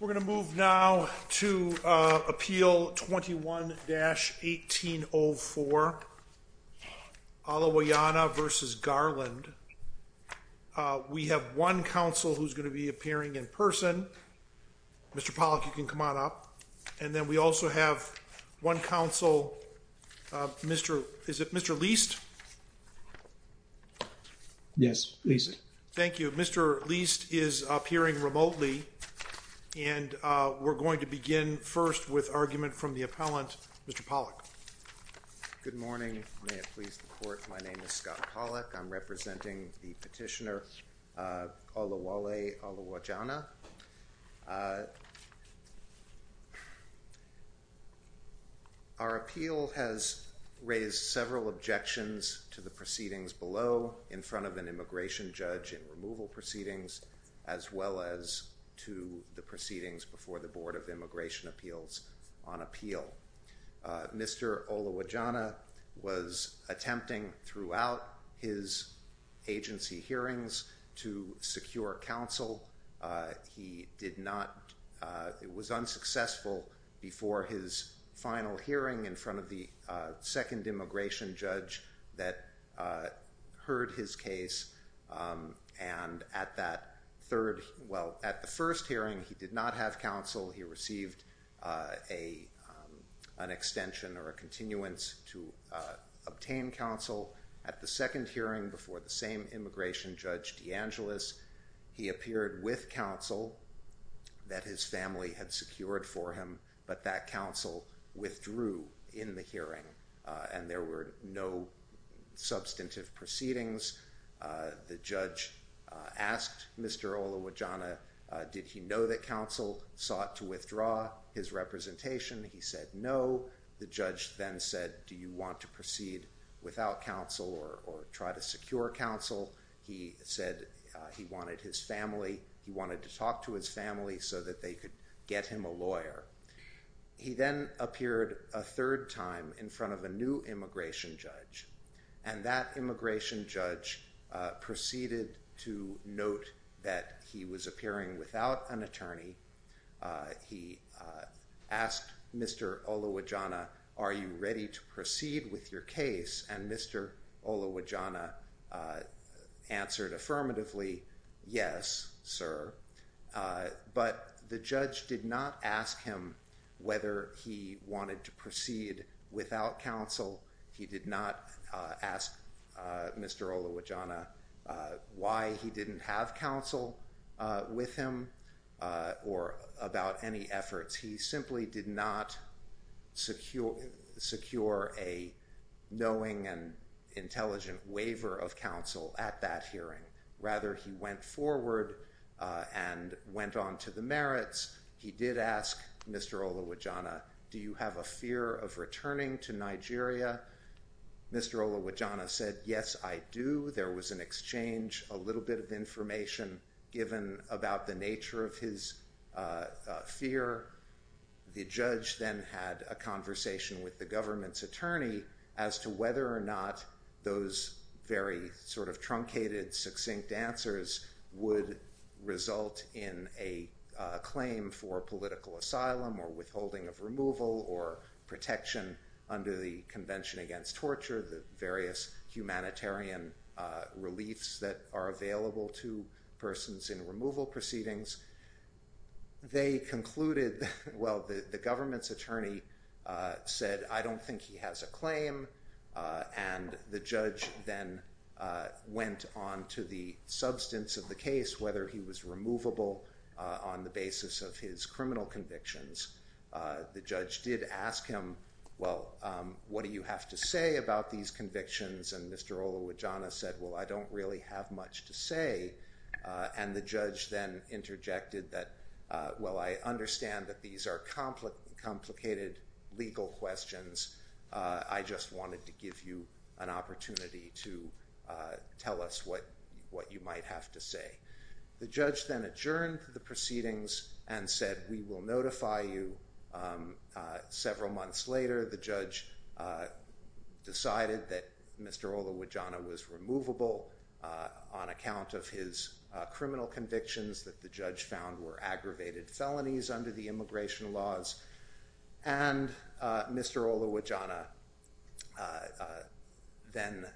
We're going to move now to Appeal 21-1804, Olawole Oluwajana v. Garland. We have one counsel who's going to be appearing in person. Mr. Pollack, you can come on up. And then we also have one counsel, is it Mr. Leist? Yes, Leist. Thank you. Mr. Leist is appearing remotely. And we're going to begin first with argument from the appellant, Mr. Pollack. Good morning. May it please the court, my name is Scott Pollack. I'm representing the petitioner Olawole Oluwajana. Our appeal has raised several objections to the proceedings below in front of an immigration judge in removal proceedings, as well as to the proceedings before the Board of Immigration Appeals on appeal. Mr. Oluwajana was attempting throughout his agency hearings to secure counsel. He was unsuccessful before his final hearing in front of the second immigration judge that heard his case. And at the first hearing, he did not have counsel. He received an extension or a continuance to obtain counsel. At the second hearing before the same immigration judge, DeAngelis, he appeared with counsel that his family had secured for him, but that counsel withdrew in the hearing and there were no substantive proceedings. The judge asked Mr. Oluwajana, did he know that counsel sought to withdraw his representation? He said no. The judge then said, do you want to proceed without counsel or try to secure counsel? He said he wanted his family. He wanted to talk to his family so that they could get him a lawyer. He then appeared a third time in front of a new immigration judge, and that immigration judge proceeded to note that he was appearing without an attorney. He asked Mr. Oluwajana, are you ready to proceed with your case? And Mr. Oluwajana answered affirmatively, yes, sir. But the judge did not ask him whether he wanted to proceed without counsel. He did not ask Mr. Oluwajana why he didn't have counsel with him. Or about any efforts. He simply did not secure a knowing and intelligent waiver of counsel at that hearing. Rather, he went forward and went on to the merits. He did ask Mr. Oluwajana, do you have a fear of returning to Nigeria? Mr. Oluwajana said, yes, I do. There was an exchange, a little bit of information given about the nature of his fear. The judge then had a conversation with the government's attorney as to whether or not those very sort of truncated, succinct answers would result in a claim for political asylum or withholding of removal or protection under the Convention Against Torture, the various humanitarian reliefs that are available to persons in removal proceedings. They concluded, well, the government's attorney said, I don't think he has a claim. And the judge then went on to the substance of the case, whether he was removable on the basis of his criminal convictions. The judge did ask him, well, what do you have to say about these convictions? And Mr. Oluwajana said, well, I don't really have much to say. And the judge then interjected that, well, I understand that these are complicated legal questions. I just wanted to give you an opportunity to tell us what you might have to say. The judge then adjourned the proceedings and said, we will notify you several months later. The judge decided that Mr. Oluwajana was removable on account of his criminal convictions that the judge found were aggravated felonies under the immigration laws. And Mr. Oluwajana then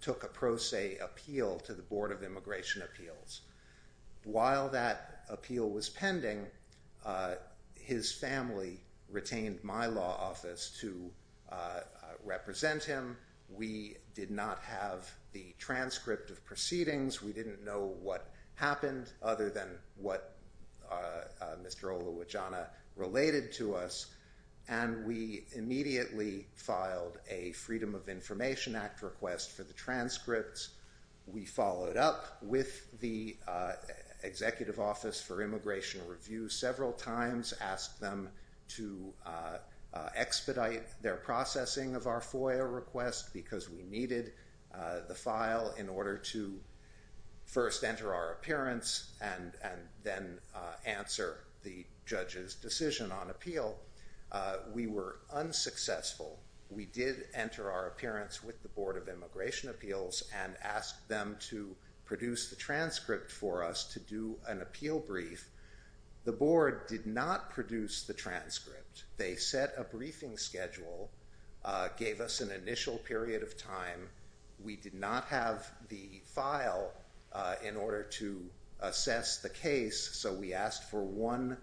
took a pro se appeal to the Board of Immigration Appeals. While that appeal was pending, his family retained my law office to represent him. We did not have the transcript of proceedings. We didn't know what happened other than what Mr. Oluwajana related to us. And we immediately filed a Freedom of Information Act request for the transcripts. We followed up with the Executive Office for Immigration Review several times, asked them to expedite their processing of our FOIA request, because we needed the file in order to first enter our appearance and then answer the judge's decision on appeal. We were unsuccessful. We did enter our appearance with the Board of Immigration Appeals and asked them to produce the transcript for us to do an appeal brief. The board did not produce the transcript. They set a briefing schedule, gave us an initial period of time. We did not have the file in order to assess the case, so we asked for one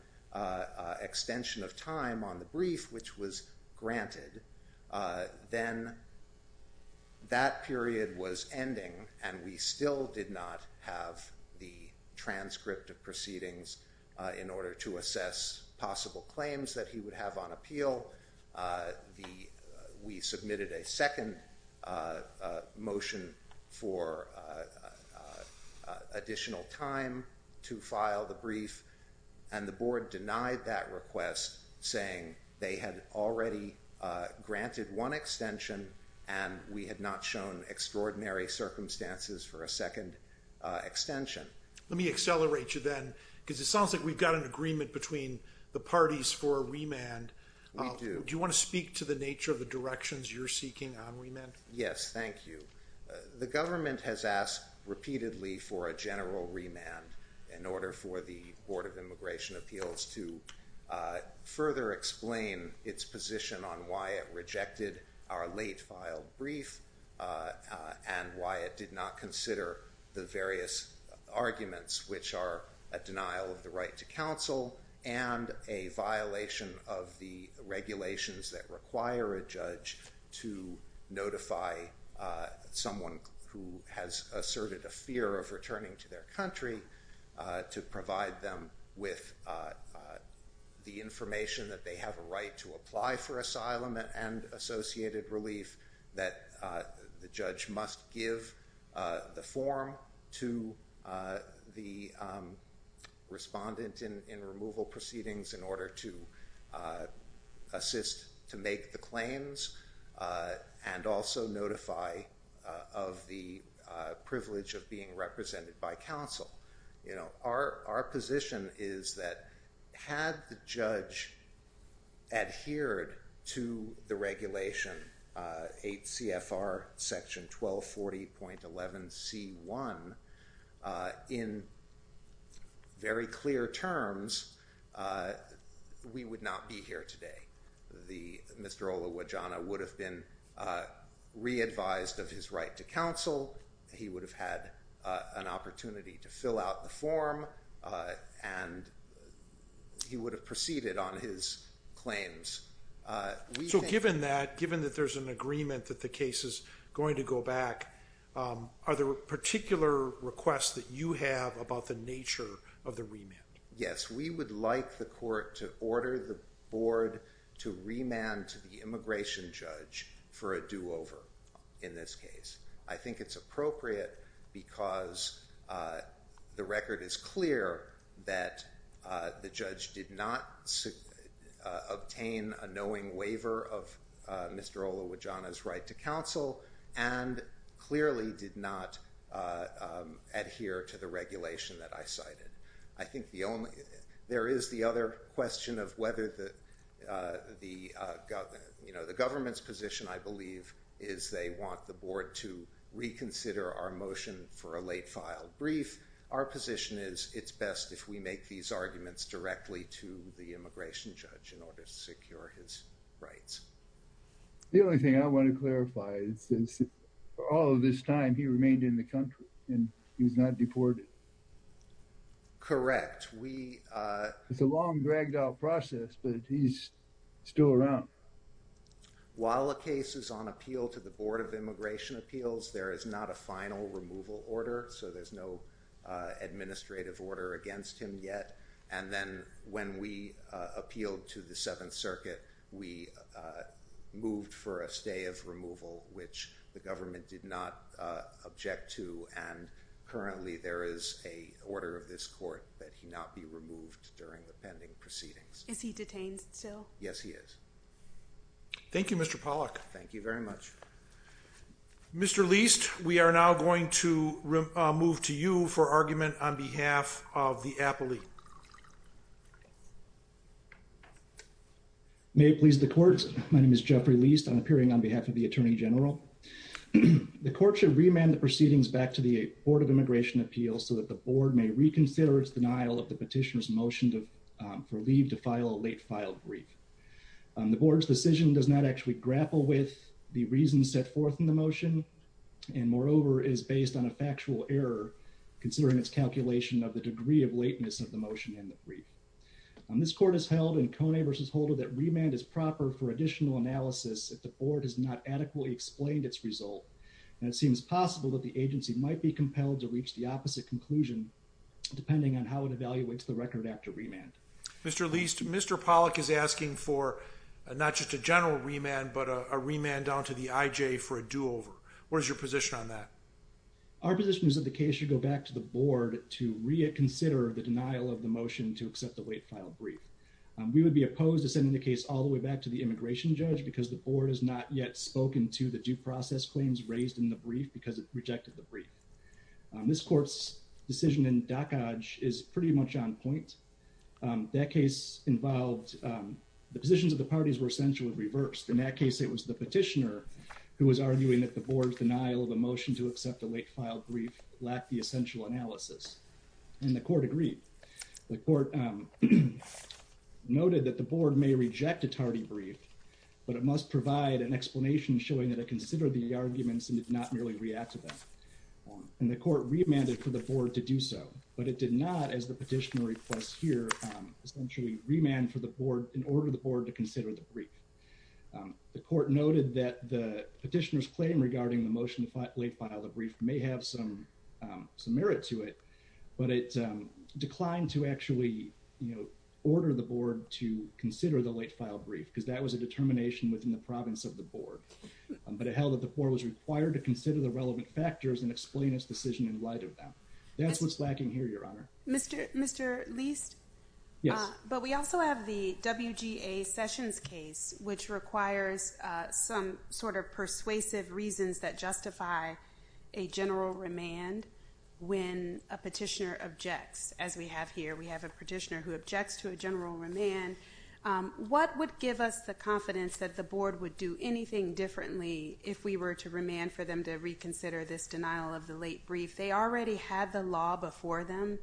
extension of time on the brief, which was granted. Then that period was ending, and we still did not have the transcript of proceedings in order to assess possible claims that he would have on appeal. We submitted a second motion for additional time to file the brief, and the board denied that request, saying they had already granted one extension and we had not shown extraordinary circumstances for a second extension. Let me accelerate you then, because it sounds like we've got an agreement between the parties for a remand. We do. Do you want to speak to the nature of the directions you're seeking on remand? Yes, thank you. The government has asked repeatedly for a general remand in order for the Board of Immigration Appeals to further explain its position on why it rejected our late filed brief and why it did not consider the various arguments, which are a denial of the right to counsel and a violation of the regulations that require a judge to notify someone who has asserted a fear of returning to their country to provide them with the information that they have a right to apply for asylum and associated relief that the judge must give the form to the respondent in removal proceedings in order to assist to make the claims and also notify of the privilege of being represented by counsel. Our position is that had the judge adhered to the regulation 8 CFR section 1240.11c1 in very clear terms, we would not be here today. Mr. Olawodjana would have been re-advised of his right to counsel. He would have had an opportunity to fill out the form and he would have proceeded on his claims. So given that, given that there's an agreement that the case is going to go back, are there particular requests that you have about the nature of the remand? Yes, we would like the court to order the board to remand to the immigration judge for a do-over in this case. I think it's appropriate because the record is clear that the judge did not obtain a knowing waiver of Mr. Olawodjana's right to counsel and clearly did not adhere to the regulation that I cited. I think the only, there is the other question of whether the, you know, the government's position I believe is they want the board to reconsider our motion for a late-filed brief. Our position is it's best if we make these arguments directly to the immigration judge in order to secure his rights. The only thing I want to clarify is that for all of this time, he remained in the country and he was not deported. Correct. It's a long, dragged-out process, but he's still around. While the case is on appeal to the Board of Immigration Appeals, there is not a final removal order, so there's no administrative order against him yet. And then when we appealed to the Seventh Circuit, we moved for a stay of removal, which the government did not object to. And currently there is an order of this court that he not be removed during the pending proceedings. Is he detained still? Yes, he is. Thank you, Mr. Pollack. Thank you very much. Mr. Leist, we are now going to move to you for argument on behalf of the appellee. May it please the Court, my name is Jeffrey Leist. I'm appearing on behalf of the Attorney General. The Court should remand the proceedings back to the Board of Immigration Appeals so that the Board may reconsider its denial of the petitioner's motion for leave to file a late-filed brief. The Board's decision does not actually grapple with the reasons set forth in the motion and, moreover, is based on a factual error, considering its calculation of the degree of lateness of the motion in the brief. This Court has held in Coney v. Holder that remand is proper for additional analysis if the Board has not adequately explained its result, and it seems possible that the agency might be compelled to reach the opposite conclusion depending on how it evaluates the record after remand. Mr. Leist, Mr. Pollack is asking for not just a general remand but a remand down to the IJ for a do-over. What is your position on that? Our position is that the case should go back to the Board to reconsider the denial of the motion to accept the late-filed brief. We would be opposed to sending the case all the way back to the immigration judge because the Board has not yet spoken to the due process claims raised in the brief because it rejected the brief. This Court's decision in Dockage is pretty much on point. That case involved the positions of the parties were essentially reversed. In that case, it was the petitioner who was arguing that the Board's denial of a motion to accept a late-filed brief lacked the essential analysis, and the Court agreed. The Court noted that the Board may reject a tardy brief, but it must provide an explanation showing that it considered the arguments and did not merely react to them. And the Court remanded for the Board to do so, but it did not, as the petitioner requests here, essentially remand for the Board in order for the Board to consider the brief. The Court noted that the petitioner's claim regarding the motion to late-file the brief may have some merit to it, but it declined to actually order the Board to consider the late-file brief because that was a determination within the province of the Board. But it held that the Board was required to consider the relevant factors and explain its decision in light of them. That's what's lacking here, Your Honor. Mr. Leist? Yes. But we also have the WGA Sessions case, which requires some sort of persuasive reasons that justify a general remand when a petitioner objects, as we have here. We have a petitioner who objects to a general remand. What would give us the confidence that the Board would do anything differently if we were to remand for them to reconsider this denial of the late brief? They already had the law before them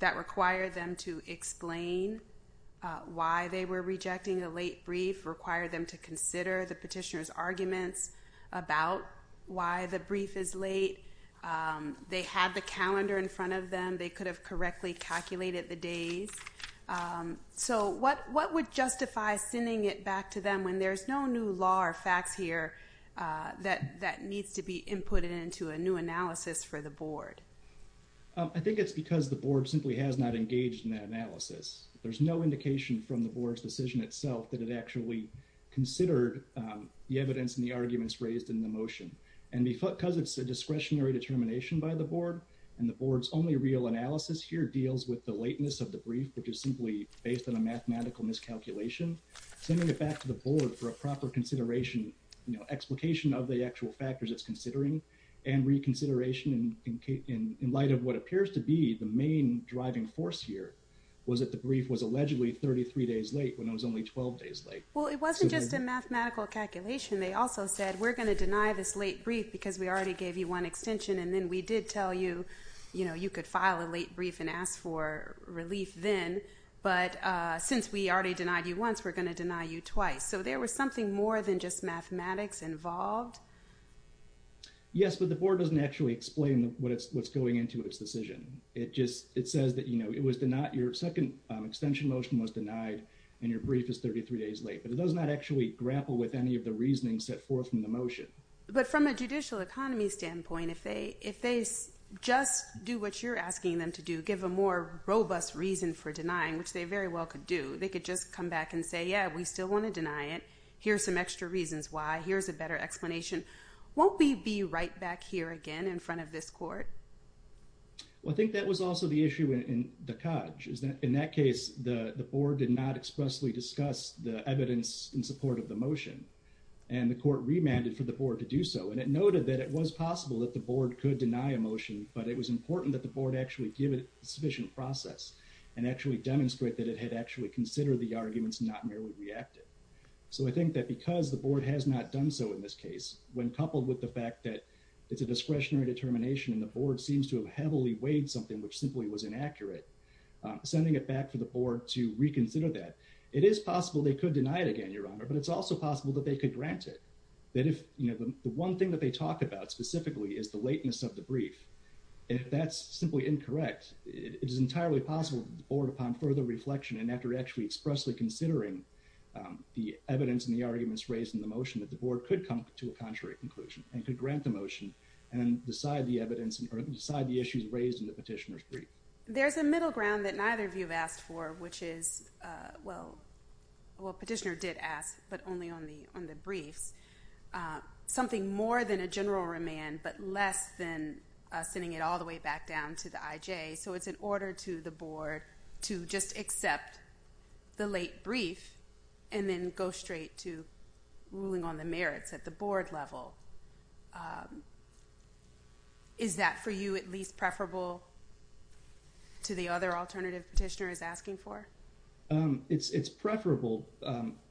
that required them to explain why they were rejecting a late brief, required them to consider the petitioner's arguments about why the brief is late, they had the calendar in front of them, they could have correctly calculated the days. So what would justify sending it back to them when there's no new law or facts here that needs to be inputted into a new analysis for the Board? I think it's because the Board simply has not engaged in that analysis. There's no indication from the Board's decision itself that it actually considered the evidence and the arguments raised in the motion. And because it's a discretionary determination by the Board and the Board's only real analysis here deals with the lateness of the brief, which is simply based on a mathematical miscalculation, sending it back to the Board for a proper consideration, you know, explication of the actual factors it's considering and reconsideration in light of what appears to be the main driving force here was that the brief was allegedly 33 days late when it was only 12 days late. Well, it wasn't just a mathematical calculation. They also said we're going to deny this late brief because we already gave you one extension and then we did tell you, you know, you could file a late brief and ask for relief then, but since we already denied you once, we're going to deny you twice. So there was something more than just mathematics involved? Yes, but the Board doesn't actually explain what's going into its decision. It just says that, you know, it was denied, your second extension motion was denied and your brief is 33 days late. It does not actually grapple with any of the reasoning set forth in the motion. But from a judicial economy standpoint, if they just do what you're asking them to do, give a more robust reason for denying, which they very well could do, they could just come back and say, yeah, we still want to deny it. Here's some extra reasons why. Here's a better explanation. Won't we be right back here again in front of this Court? Well, I think that was also the issue in the Codge, which is that in that case, the Board did not expressly discuss the evidence in support of the motion. And the Court remanded for the Board to do so. And it noted that it was possible that the Board could deny a motion, but it was important that the Board actually give it sufficient process and actually demonstrate that it had actually considered the arguments, not merely reacted. So I think that because the Board has not done so in this case, when coupled with the fact that it's a discretionary determination, and the Board seems to have heavily weighed something, which simply was inaccurate, sending it back for the Board to reconsider that. It is possible they could deny it again, Your Honor, but it's also possible that they could grant it. That if, you know, the one thing that they talked about specifically is the lateness of the brief. If that's simply incorrect, it is entirely possible that the Board upon further reflection, and after actually expressly considering the evidence and the arguments raised in the motion, that the Board could come to a contrary conclusion and could grant the evidence and decide the issues raised in the petitioner's brief. There's a middle ground that neither of you have asked for, which is, well, petitioner did ask, but only on the briefs. Something more than a general remand, but less than sending it all the way back down to the IJ. So it's an order to the Board to just accept the late brief, and then go straight to ruling on the merits at the Board level. Is that for you at least preferable to the other alternative petitioner is asking for? It's preferable.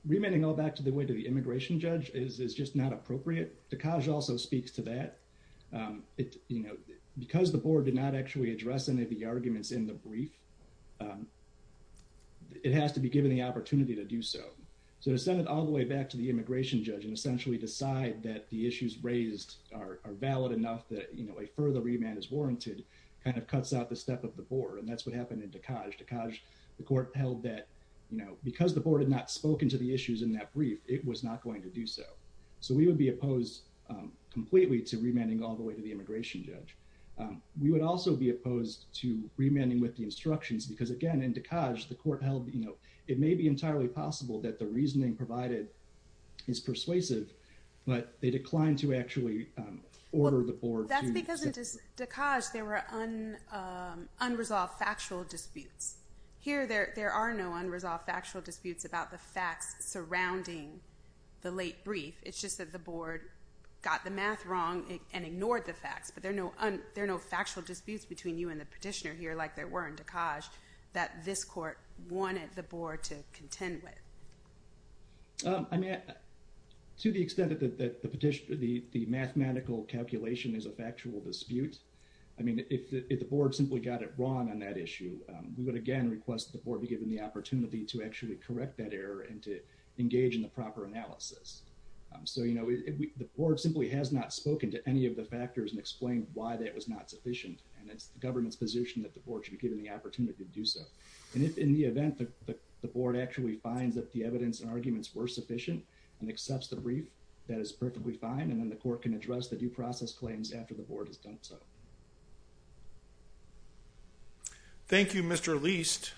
Remanding all back to the way to the immigration judge is just not appropriate. DeKalb also speaks to that. You know, because the Board did not actually address any of the arguments in the brief, it has to be given the opportunity to do so. So to send it all the way back to the immigration judge and essentially decide that the issues raised are valid enough that, you know, a further remand is warranted kind of cuts out the step of the Board. And that's what happened in DeKalb. DeKalb, the Court held that, you know, because the Board had not spoken to the issues in that brief, it was not going to do so. So we would be opposed completely to remanding all the way to the immigration judge. We would also be opposed to remanding with the instructions because again, in DeKalb, the Court held, you know, it may be entirely possible that the reasoning provided is persuasive, but they declined to actually order the Board. That's because in DeKalb there were unresolved factual disputes. Here, there are no unresolved factual disputes about the facts surrounding the late brief. It's just that the Board got the math wrong and ignored the facts, but there are no factual disputes between you and the petitioner here like there were in DeKalb that this Court wanted the Board to contend with. I mean, to the extent that the petitioner, the mathematical calculation is a factual dispute. I mean, if the Board simply got it wrong on that issue, we would again request the Board be given the opportunity to actually correct that error and to engage in the proper analysis. So, you know, the Board simply has not spoken to any of the factors and explained why that was not sufficient and it's the government's position that the Board should be given the opportunity to do so. And if in the event that the Board actually finds that the evidence and arguments were sufficient and accepts the brief, that is perfectly fine. And then the Court can address the due process claims after the Board has done so. Thank you, Mr. Leist.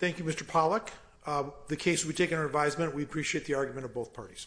Thank you, Mr. Pollack. The case we take on our advisement, we appreciate the argument of both parties.